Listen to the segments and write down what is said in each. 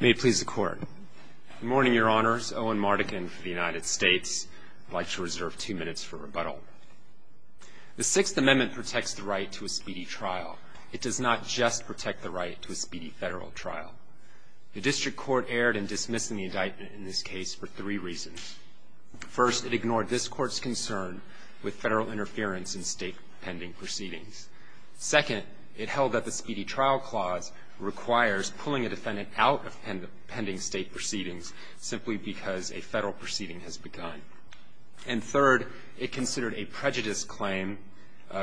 May it please the Court. Good morning, Your Honors. Owen Mardikin for the United States. I'd like to reserve two minutes for rebuttal. The Sixth Amendment protects the right to a speedy trial. It does not just protect the right to a speedy federal trial. The District Court erred in dismissing the indictment in this case for three reasons. First, it ignored this Court's concern with federal interference in state pending proceedings. Second, it held that the speedy trial clause requires pulling a defendant out of pending state proceedings simply because a federal proceeding has begun. And third, it considered a prejudice claim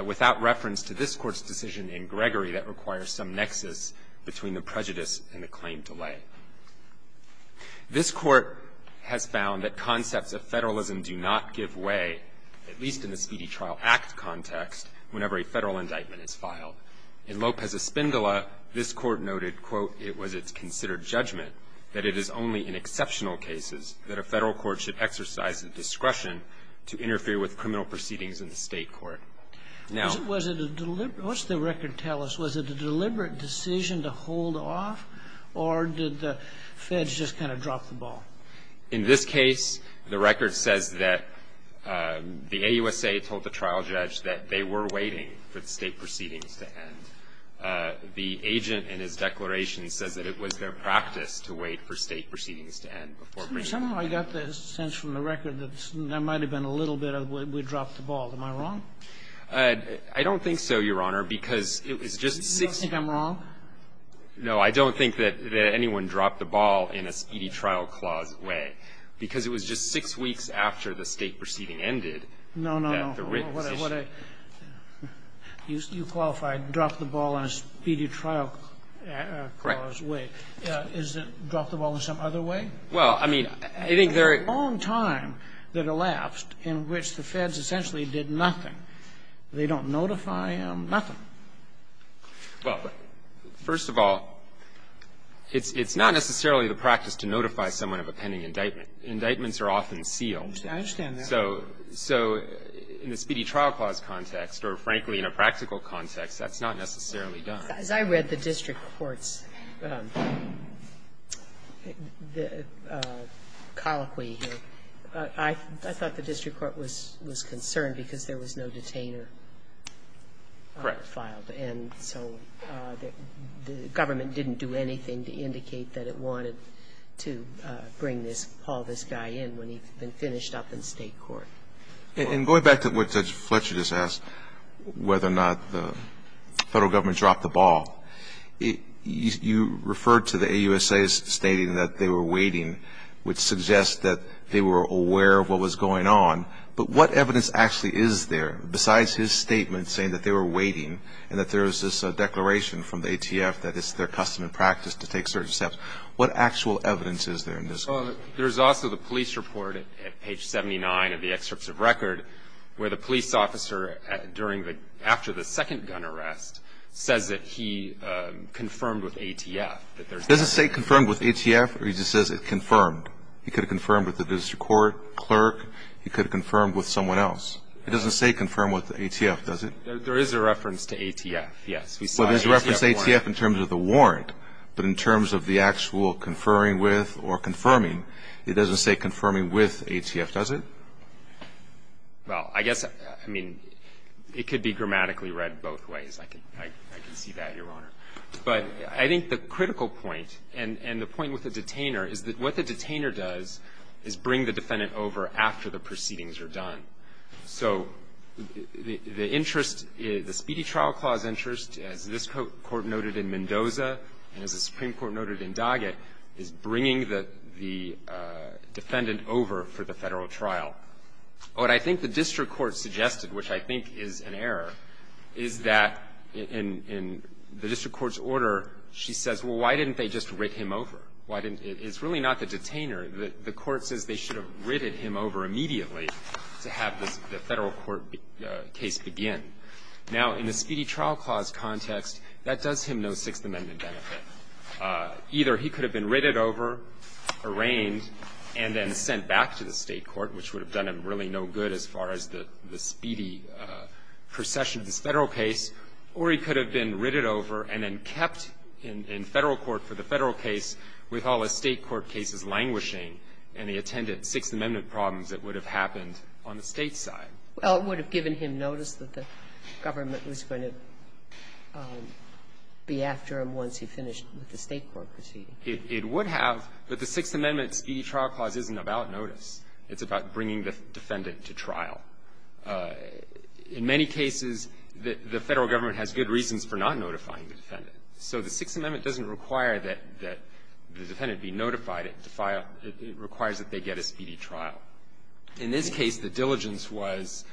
without reference to this Court's decision in Gregory that requires some nexus between the prejudice and the claim delay. This Court has found that concepts of federalism do not give way, at least in the Speedy Trial Act context, whenever a federal indictment is filed. In Lopez-Espindola, this Court noted, quote, it was its considered judgment that it is only in exceptional cases that a federal court should exercise the discretion to interfere with criminal proceedings in the state court. Now was it a deliberate What's the record tell us? Was it a deliberate decision to hold off, or did the feds just kind of drop the ball? In this case, the record says that the AUSA told the trial judge that they were waiting for the state proceedings to end. The agent in his declaration says that it was their practice to wait for state proceedings to end before proceeding. Somehow I got the sense from the record that there might have been a little bit of we dropped the ball. Am I wrong? I don't think so, Your Honor, because it was just six. You don't think I'm wrong? No, I don't think that anyone dropped the ball in a Speedy Trial Clause way, because it was just six weeks after the state proceeding ended that the written decision. No, no, no. You qualified drop the ball in a Speedy Trial Clause way. Right. Is it drop the ball in some other way? Well, I mean, I think there are. There's a long time that elapsed in which the feds essentially did nothing. They don't notify them, nothing. Well, first of all, it's not necessarily the practice to notify someone of a pending indictment. Indictments are often sealed. I understand that. So in the Speedy Trial Clause context, or frankly, in a practical context, that's not necessarily done. As I read the district court's colloquy here, I thought the district court was concerned because there was no detainer. Correct. Filed. And so the government didn't do anything to indicate that it wanted to bring this, haul this guy in when he'd been finished up in State court. And going back to what Judge Fletcher just asked, whether or not the federal government dropped the ball, you referred to the AUSA stating that they were waiting, which suggests that they were aware of what was going on. But what evidence actually is there besides his statement saying that they were waiting and that there is this declaration from the ATF that it's their custom and practice to take certain steps? What actual evidence is there in this case? Well, there's also the police report at page 79 of the excerpts of record where the police officer during the after the second gun arrest says that he confirmed with ATF. Does it say confirmed with ATF, or he just says it confirmed? He could have confirmed with the district court, clerk. He could have confirmed with someone else. It doesn't say confirmed with ATF, does it? There is a reference to ATF, yes. Well, there's a reference to ATF in terms of the warrant. But in terms of the actual conferring with or confirming, it doesn't say confirming with ATF, does it? Well, I guess, I mean, it could be grammatically read both ways. I can see that, Your Honor. But I think the critical point and the point with the detainer is that what the detainer does is bring the defendant over after the proceedings are done. So the interest, the Speedy Trial Clause interest, as this Court noted in Mendoza and as the Supreme Court noted in Doggett, is bringing the defendant over for the Federal trial. What I think the district court suggested, which I think is an error, is that in the district court's order, she says, well, why didn't they just writ him over? Why didn't they? It's really not the detainer. The court says they should have written him over immediately to have the Federal court case begin. Now, in the Speedy Trial Clause context, that does him no Sixth Amendment benefit. Either he could have been written over, arraigned, and then sent back to the State court, which would have done him really no good as far as the Speedy procession of this Federal case, or he could have been written over and then kept in Federal court for the Federal case with all the State court cases languishing and the attendant Sixth Amendment problems that would have happened on the State side. Well, it would have given him notice that the government was going to be after him once he finished with the State court proceeding. It would have, but the Sixth Amendment Speedy Trial Clause isn't about notice. It's about bringing the defendant to trial. In many cases, the Federal government has good reasons for not notifying the defendant. So the Sixth Amendment doesn't require that the defendant be notified. It requires that they get a Speedy trial. In this case, the diligence was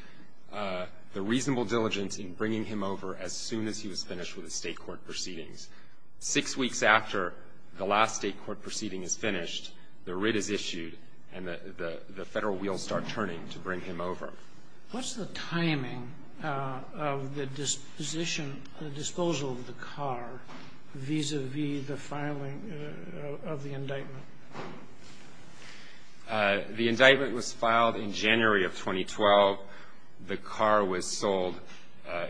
the reasonable diligence in bringing him over as soon as he was finished with the State court proceedings. Six weeks after the last State court proceeding is finished, the writ is issued, and the Federal wheels start turning to bring him over. What's the timing of the disposition, the disposal of the car vis-à-vis the filing of the indictment? The indictment was filed in January of 2012. The car was sold,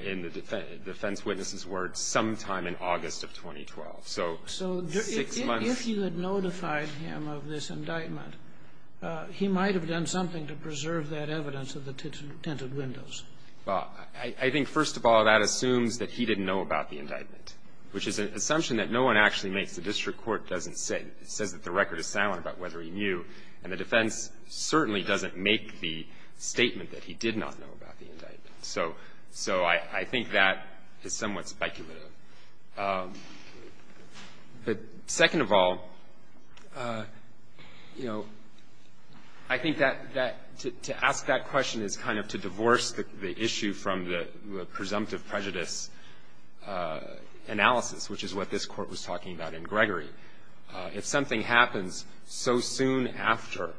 in the defense witness's words, sometime in August of 2012. So six months. So if you had notified him of this indictment, he might have done something to preserve that evidence of the tinted windows. Well, I think, first of all, that assumes that he didn't know about the indictment, which is an assumption that no one actually makes. The district court doesn't say. It says that the record is silent about whether he knew, and the defense certainly doesn't make the statement that he did not know about the indictment. So I think that is somewhat speculative. But second of all, you know, I think that that to ask that question is kind of to divorce the issue from the presumptive prejudice analysis, which is what this Court was talking about in Gregory. If something happens so soon after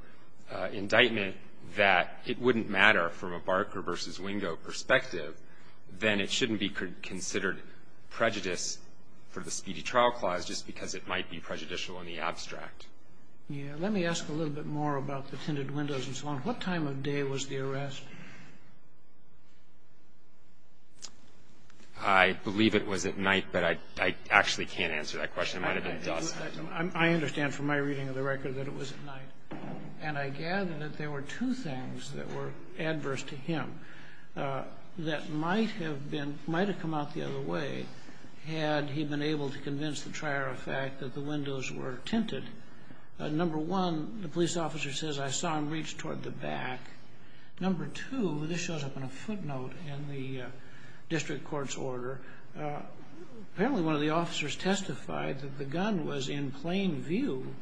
indictment that it wouldn't matter from a Barker v. Wingo perspective, then it shouldn't be considered prejudice for the speedy trial clause just because it might be prejudicial in the abstract. Yeah. Let me ask a little bit more about the tinted windows and so on. What time of day was the arrest? I believe it was at night, but I actually can't answer that question. It might have been dusk. I understand from my reading of the record that it was at night. And I gather that there were two things that were adverse to him that might have been, might have come out the other way had he been able to convince the trier of fact that the windows were tinted. Number one, the police officer says, I saw him reach toward the back. Number two, this shows up in a footnote in the district court's order, apparently one of the officers testified that the gun was in plain view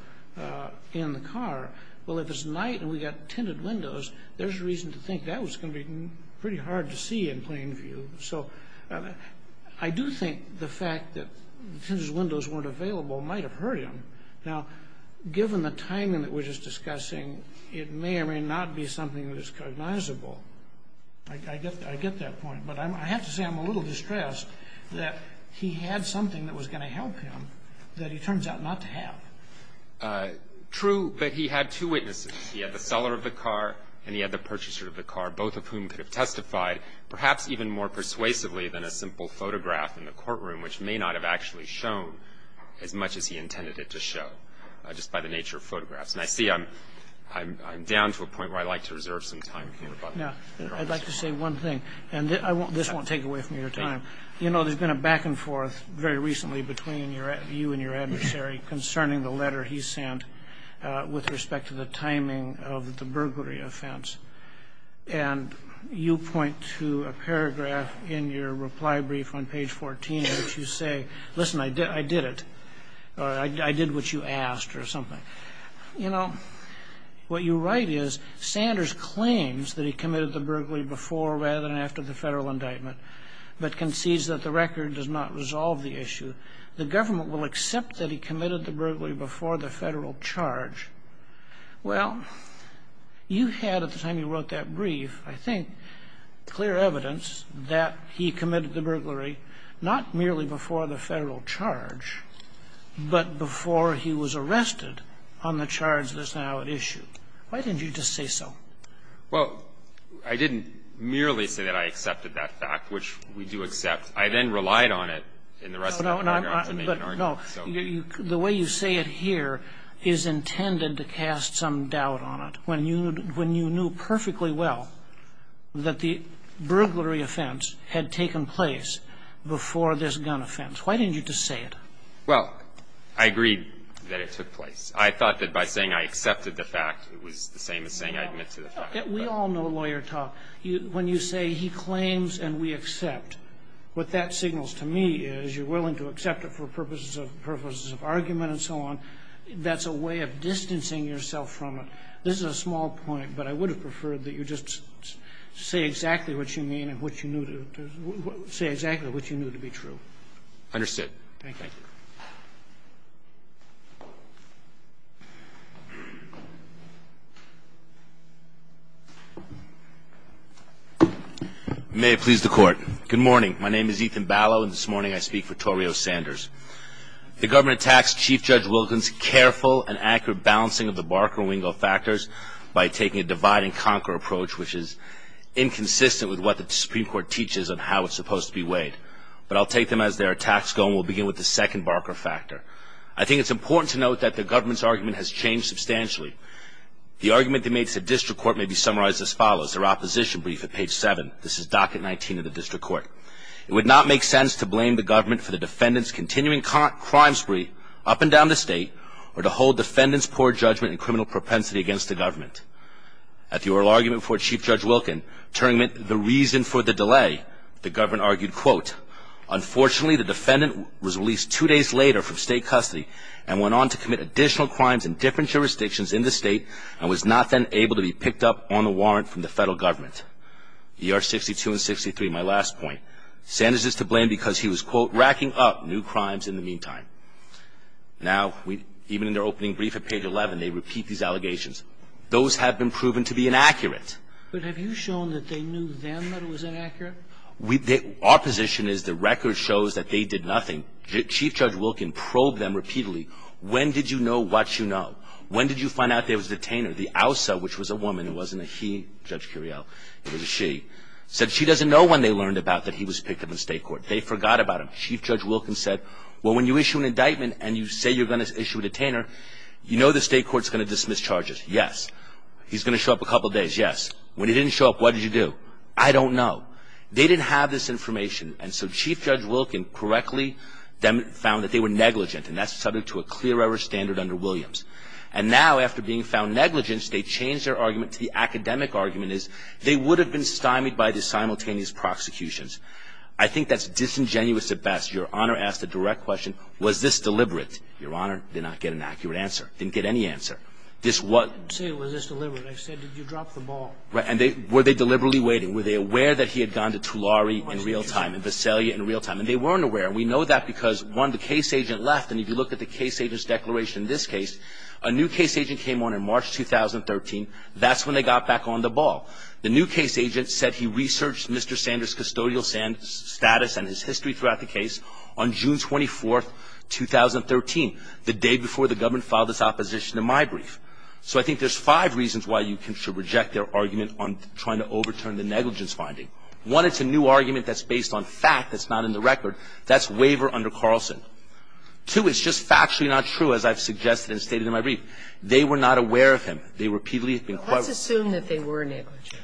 in the car. Well, if it's night and we got tinted windows, there's reason to think that was going to be pretty hard to see in plain view. So I do think the fact that the tinted windows weren't available might have hurt him. Now, given the timing that we're just discussing, it may or may not be something that is cognizable. I get that point. But I have to say I'm a little distressed that he had something that was going to help him that he turns out not to have. True, but he had two witnesses. He had the seller of the car and he had the purchaser of the car, both of whom could have testified, perhaps even more persuasively than a simple photograph in the courtroom, which may not have actually shown as much as he intended it to show, just by the nature of photographs. And I see I'm down to a point where I'd like to reserve some time for rebuttal. Now, I'd like to say one thing, and this won't take away from your time. You know, there's been a back and forth very recently between you and your adversary concerning the letter he sent with respect to the timing of the burglary offense. And you point to a paragraph in your reply brief on page 14 in which you say, listen, I did it. I did what you asked or something. You know, what you write is, Sanders claims that he committed the burglary before rather than after the federal indictment, but concedes that the record does not resolve the issue. The government will accept that he committed the burglary before the federal charge. Well, you had at the time you wrote that brief, I think, clear evidence that he committed the burglary not merely before the federal charge, but before he was arrested on the charge that's now at issue. Why didn't you just say so? Well, I didn't merely say that I accepted that fact, which we do accept. I then relied on it in the rest of the paragraph to make an argument. But, no, the way you say it here is intended to cast some doubt on it. When you knew perfectly well that the burglary offense had taken place before this gun offense, why didn't you just say it? Well, I agreed that it took place. I thought that by saying I accepted the fact, it was the same as saying I admit to the fact. We all know lawyer talk. When you say he claims and we accept, what that signals to me is you're willing to accept it for purposes of argument and so on. That's a way of distancing yourself from it. This is a small point, but I would have preferred that you just say exactly what you mean and what you knew to say exactly what you knew to be true. Understood. Thank you. May it please the Court. Good morning. My name is Ethan Ballow, and this morning I speak for Toreo Sanders. The government attacks Chief Judge Wilkins' careful and accurate balancing of the factors by taking a divide and conquer approach, which is inconsistent with what the Supreme Court teaches on how it's supposed to be weighed. But I'll take them as their attacks go, and we'll begin with the second Barker factor. I think it's important to note that the government's argument has changed substantially. The argument they made to the district court may be summarized as follows. Their opposition brief at page 7. This is docket 19 of the district court. It would not make sense to blame the government for the defendant's continuing crime spree up and down the state or to hold defendant's poor judgment and conviction against the government. At the oral argument before Chief Judge Wilkins, Turing made the reason for the delay. The government argued, quote, unfortunately the defendant was released two days later from state custody and went on to commit additional crimes in different jurisdictions in the state and was not then able to be picked up on the warrant from the federal government. ER 62 and 63, my last point. Sanders is to blame because he was, quote, racking up new crimes in the meantime. Now, even in their opening brief at page 11, they repeat these allegations. Those have been proven to be inaccurate. But have you shown that they knew then that it was inaccurate? Our position is the record shows that they did nothing. Chief Judge Wilkins probed them repeatedly. When did you know what you know? When did you find out there was a detainer? The OUSA, which was a woman, it wasn't a he, Judge Curiel, it was a she, said she doesn't know when they learned about that he was picked up in state court. They forgot about him. Chief Judge Wilkins said, well, when you issue an indictment and you say you're going to issue a detainer, you know the state court's going to dismiss charges. Yes. He's going to show up a couple days. Yes. When he didn't show up, what did you do? I don't know. They didn't have this information. And so Chief Judge Wilkins correctly found that they were negligent, and that's subject to a clear error standard under Williams. And now, after being found negligent, they changed their argument to the academic argument is they would have been stymied by the simultaneous prosecutions. I think that's disingenuous at best. Your Honor asked a direct question, was this deliberate? Your Honor, did not get an accurate answer. Didn't get any answer. This was. I didn't say, was this deliberate. I said, did you drop the ball? Right. And were they deliberately waiting? Were they aware that he had gone to Tulare in real time, and Visalia in real time? And they weren't aware. And we know that because, one, the case agent left. And if you look at the case agent's declaration in this case, a new case agent came on in March 2013. That's when they got back on the ball. The new case agent said he researched Mr. Sanders' custodial status and his history throughout the case on June 24th, 2013, the day before the government filed its opposition to my brief. So I think there's five reasons why you should reject their argument on trying to overturn the negligence finding. One, it's a new argument that's based on fact that's not in the record. That's waiver under Carlson. Two, it's just factually not true, as I've suggested and stated in my brief. They were not aware of him. They repeatedly inquired. Let's assume that they were negligent.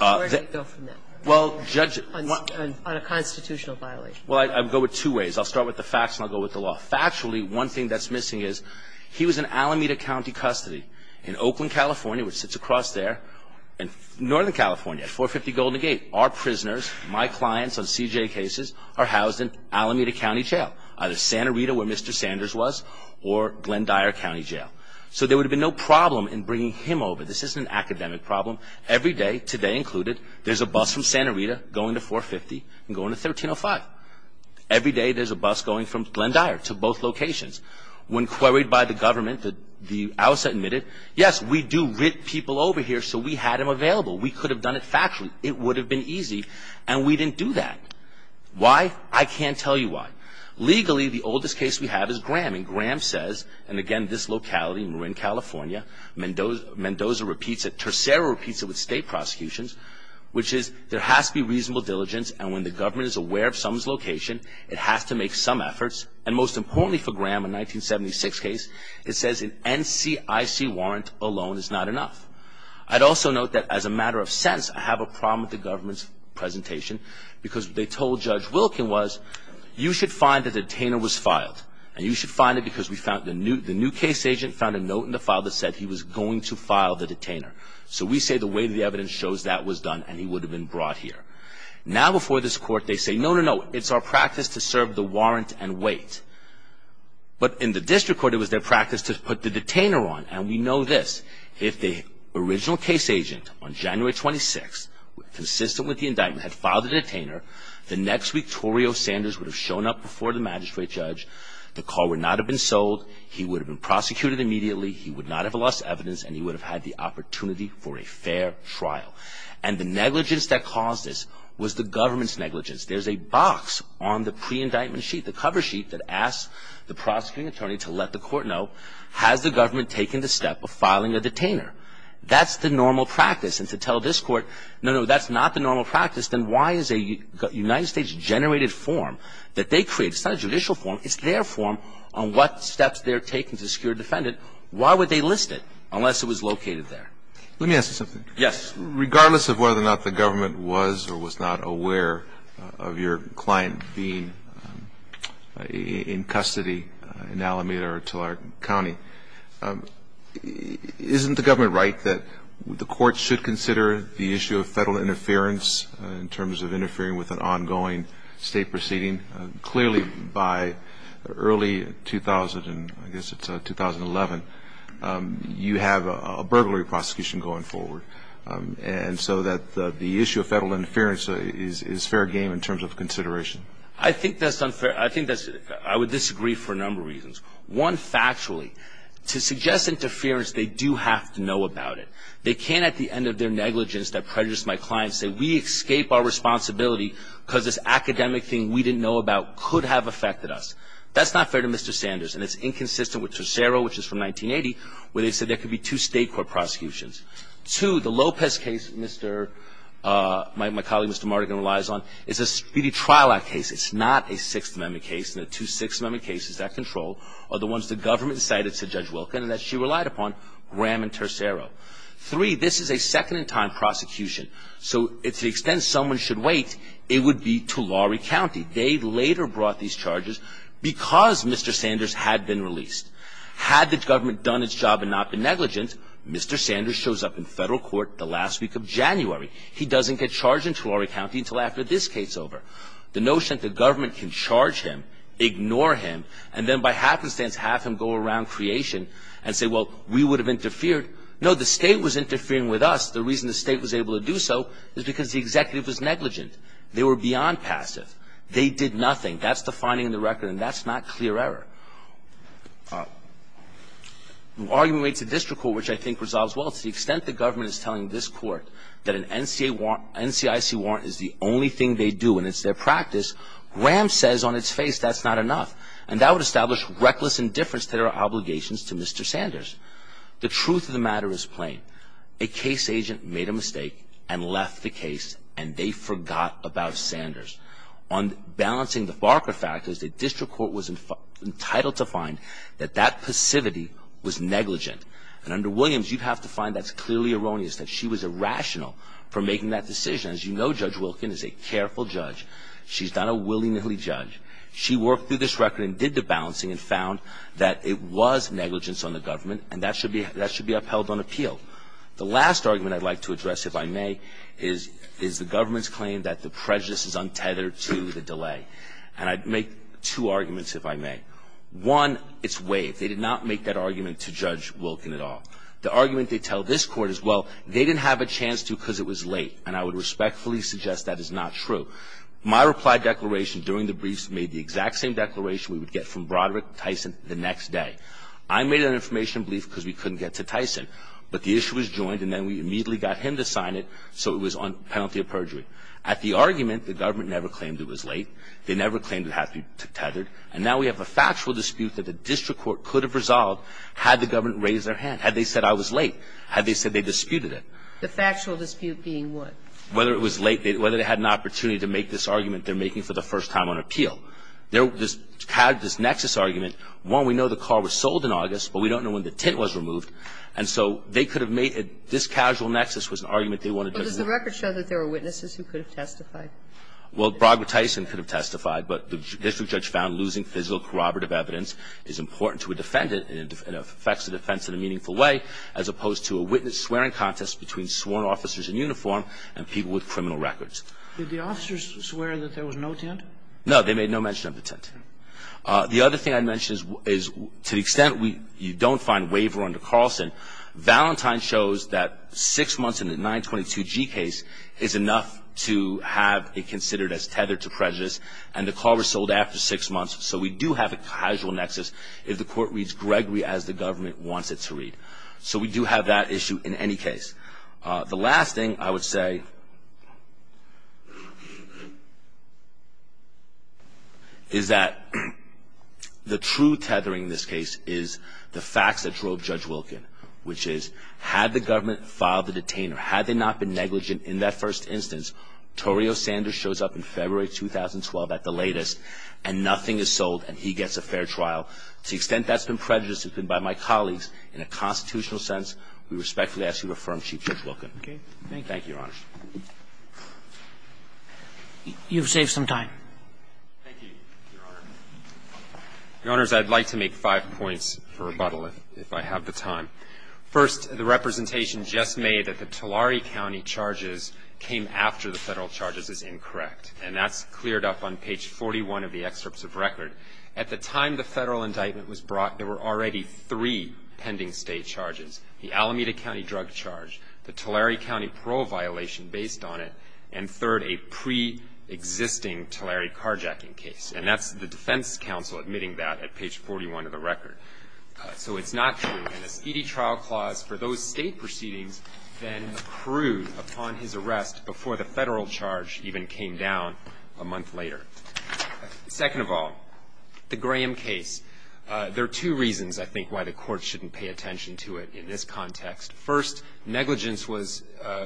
Where do you go from that? Well, Judge ---- On a constitutional violation. Well, I go with two ways. I'll start with the facts and I'll go with the law. Factually, one thing that's missing is he was in Alameda County custody in Oakland, California, which sits across there, and northern California, 450 Golden Gate. Our prisoners, my clients on CJA cases, are housed in Alameda County Jail, either Santa Rita, where Mr. Sanders was, or Glendyre County Jail. So there would have been no problem in bringing him over. This isn't an academic problem. Every day, today included, there's a bus from Santa Rita going to 450 and going to 1305. Every day there's a bus going from Glendyre to both locations. When queried by the government, the outset admitted, yes, we do rip people over here, so we had him available. We could have done it factually. It would have been easy, and we didn't do that. Why? I can't tell you why. Legally, the oldest case we have is Graham. Graham says, and again, this locality, Marin, California, Mendoza repeats it, Tercero repeats it with state prosecutions, which is there has to be reasonable diligence, and when the government is aware of someone's location, it has to make some efforts. And most importantly for Graham, a 1976 case, it says an NCIC warrant alone is not enough. I'd also note that as a matter of sense, I have a problem with the government's presentation, because what they told Judge Wilkin was, you should find that the new case agent found a note in the file that said he was going to file the detainer. So we say the way the evidence shows that was done, and he would have been brought here. Now before this court, they say, no, no, no, it's our practice to serve the warrant and wait. But in the district court, it was their practice to put the detainer on, and we know this. If the original case agent on January 26, consistent with the indictment, had filed the detainer, the next week Torrio Sanders would have shown up before the magistrate judge. The call would not have been sold. He would have been prosecuted immediately. He would not have lost evidence, and he would have had the opportunity for a fair trial. And the negligence that caused this was the government's negligence. There's a box on the pre-indictment sheet, the cover sheet, that asks the prosecuting attorney to let the court know, has the government taken the step of filing a detainer? That's the normal practice. And to tell this court, no, no, that's not the normal practice, then why is a United States-generated form that they created, it's not a judicial form, it's their form, on what steps they're taking to secure a defendant, why would they list it unless it was located there? Let me ask you something. Yes. Regardless of whether or not the government was or was not aware of your client being in custody in Alameda or Tillard County, isn't the government right that the court should consider the issue of Federal interference in terms of interfering with an ongoing state proceeding? Clearly, by early 2000, I guess it's 2011, you have a burglary prosecution going forward. And so that the issue of Federal interference is fair game in terms of consideration. I think that's unfair. I think that's, I would disagree for a number of reasons. One, factually, to suggest interference, they do have to know about it. They can't, at the end of their negligence that prejudiced my client, say, we escaped our responsibility because this academic thing we didn't know about could have affected us. That's not fair to Mr. Sanders. And it's inconsistent with Tercero, which is from 1980, where they said there could be two state court prosecutions. Two, the Lopez case, my colleague Mr. Mardigan relies on, is a speedy trial act case. It's not a Sixth Amendment case. And the two Sixth Amendment cases that control are the ones the government cited to Judge Wilkin and that she relied upon, Graham and Tercero. Three, this is a second-in-time prosecution. So to the extent someone should wait, it would be Tulare County. They later brought these charges because Mr. Sanders had been released. Had the government done its job and not been negligent, Mr. Sanders shows up in federal court the last week of January. He doesn't get charged in Tulare County until after this case is over. The notion that the government can charge him, ignore him, and then by happenstance have him go around creation and say, well, we would have interfered. No, the state was interferinging with us. The reason the state was able to do so is because the executive was negligent. They were beyond passive. They did nothing. That's the finding in the record. And that's not clear error. The argument made to district court, which I think resolves well, to the extent the government is telling this court that an NCIC warrant is the only thing they do and it's their practice, Graham says on its face that's not enough. And that would establish reckless indifference to their obligations to Mr. Sanders. The truth of the matter is plain. A case agent made a mistake and left the case and they forgot about Sanders. On balancing the Barker factors, the district court was entitled to find that that passivity was negligent. And under Williams, you'd have to find that's clearly erroneous, that she was irrational for making that decision. As you know, Judge Wilkin is a careful judge. She's not a willy-nilly judge. She worked through this record and did the balancing and found that it was negligence on the government and that should be upheld on appeal. The last argument I'd like to address, if I may, is the government's claim that the prejudice is untethered to the delay. And I'd make two arguments, if I may. One, it's waived. They did not make that argument to Judge Wilkin at all. The argument they tell this court is, well, they didn't have a chance to because it was late. And I would respectfully suggest that is not true. My reply declaration during the briefs made the exact same declaration we would get from Broderick Tyson the next day. I made an information brief because we couldn't get to Tyson. But the issue was joined and then we immediately got him to sign it so it was on penalty of perjury. At the argument, the government never claimed it was late. They never claimed it had to be tethered. And now we have a factual dispute that the district court could have resolved had the government raised their hand, had they said I was late, had they said they disputed it. The factual dispute being what? Whether it was late. Whether they had an opportunity to make this argument they're making for the first time on appeal. They had this nexus argument. One, we know the car was sold in August, but we don't know when the tint was removed. And so they could have made it this casual nexus was an argument they wanted to resolve. But does the record show that there were witnesses who could have testified? Well, Broderick Tyson could have testified, but the district judge found losing physical corroborative evidence is important to a defendant and affects the defense in a meaningful way as opposed to a witness swearing contest between sworn officers in uniform and people with criminal records. Did the officers swear that there was no tint? They made no mention of the tint. The other thing I'd mention is to the extent you don't find waiver under Carlson, Valentine shows that six months in a 922G case is enough to have it considered as tethered to prejudice and the car was sold after six months. So we do have a casual nexus if the court reads Gregory as the government wants it to read. So we do have that issue in any case. The last thing I would say is that the true tethering in this case is the facts that drove Judge Wilkin, which is had the government filed the detainer, had they not been negligent in that first instance, Torrio Sanders shows up in February 2012 at the latest and nothing is sold and he gets a fair trial. To the extent that's been prejudiced has been by my colleagues in a constitutional sense, we respectfully ask you to affirm Chief Judge Wilkin. Thank you, Your Honor. You've saved some time. Thank you, Your Honor. Your Honors, I'd like to make five points for rebuttal if I have the time. First, the representation just made that the Tulare County charges came after the Federal charges is incorrect. And that's cleared up on page 41 of the excerpts of record. At the time the Federal indictment was brought, there were already three pending state charges. The Alameda County drug charge, the Tulare County parole violation based on it, and third, a preexisting Tulare carjacking case. And that's the defense counsel admitting that at page 41 of the record. So it's not true. And the speedy trial clause for those state proceedings then accrued upon his arrest before the Federal charge even came down a month later. Second of all, the Graham case, there are two reasons, I think, why the Court shouldn't pay attention to it in this context. First, negligence was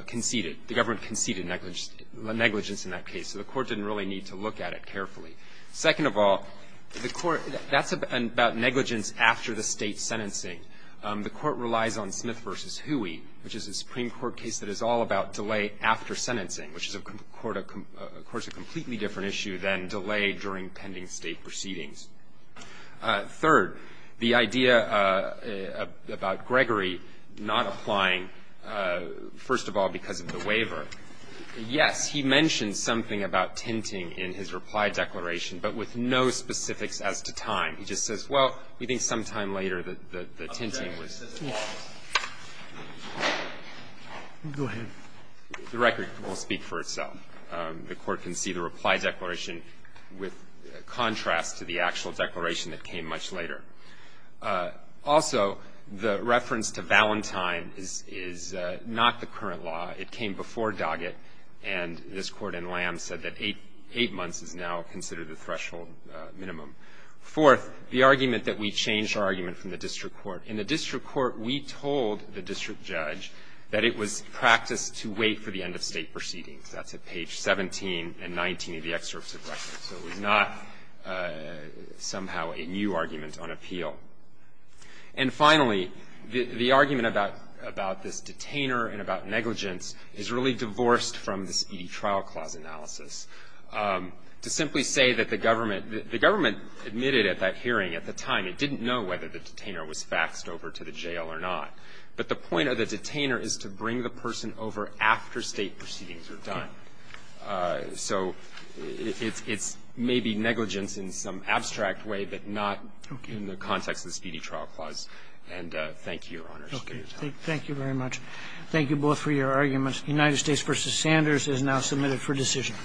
conceded. The government conceded negligence in that case, so the Court didn't really need to look at it carefully. Second of all, that's about negligence after the state sentencing. The Court relies on Smith v. Huey, which is a Supreme Court case that is all about delay after sentencing, which is, of course, a completely different issue than delay during pending state proceedings. Third, the idea about Gregory not applying, first of all, because of the waiver. Yes, he mentions something about tinting in his reply declaration, but with no specifics as to time. He just says, well, we think sometime later the tinting was too long. Go ahead. The record will speak for itself. The Court can see the reply declaration with contrast to the actual declaration that came much later. Also, the reference to Valentine is not the current law. It came before Doggett, and this Court in Lamb said that eight months is now considered the threshold minimum. Fourth, the argument that we changed our argument from the district court. In the district court, we told the district judge that it was practice to wait for the end of state proceedings. That's at page 17 and 19 of the excerpts of records. So it was not somehow a new argument on appeal. And finally, the argument about this detainer and about negligence is really divorced from this E.D. trial clause analysis. To simply say that the government admitted at that hearing at the time it didn't know whether the detainer was faxed over to the jail or not. But the point of the detainer is to bring the person over after state proceedings are done. So it's maybe negligence in some abstract way, but not in the context of this E.D. trial clause. And thank you, Your Honors. Thank you very much. Thank you both for your arguments. United States v. Sanders is now submitted for decision.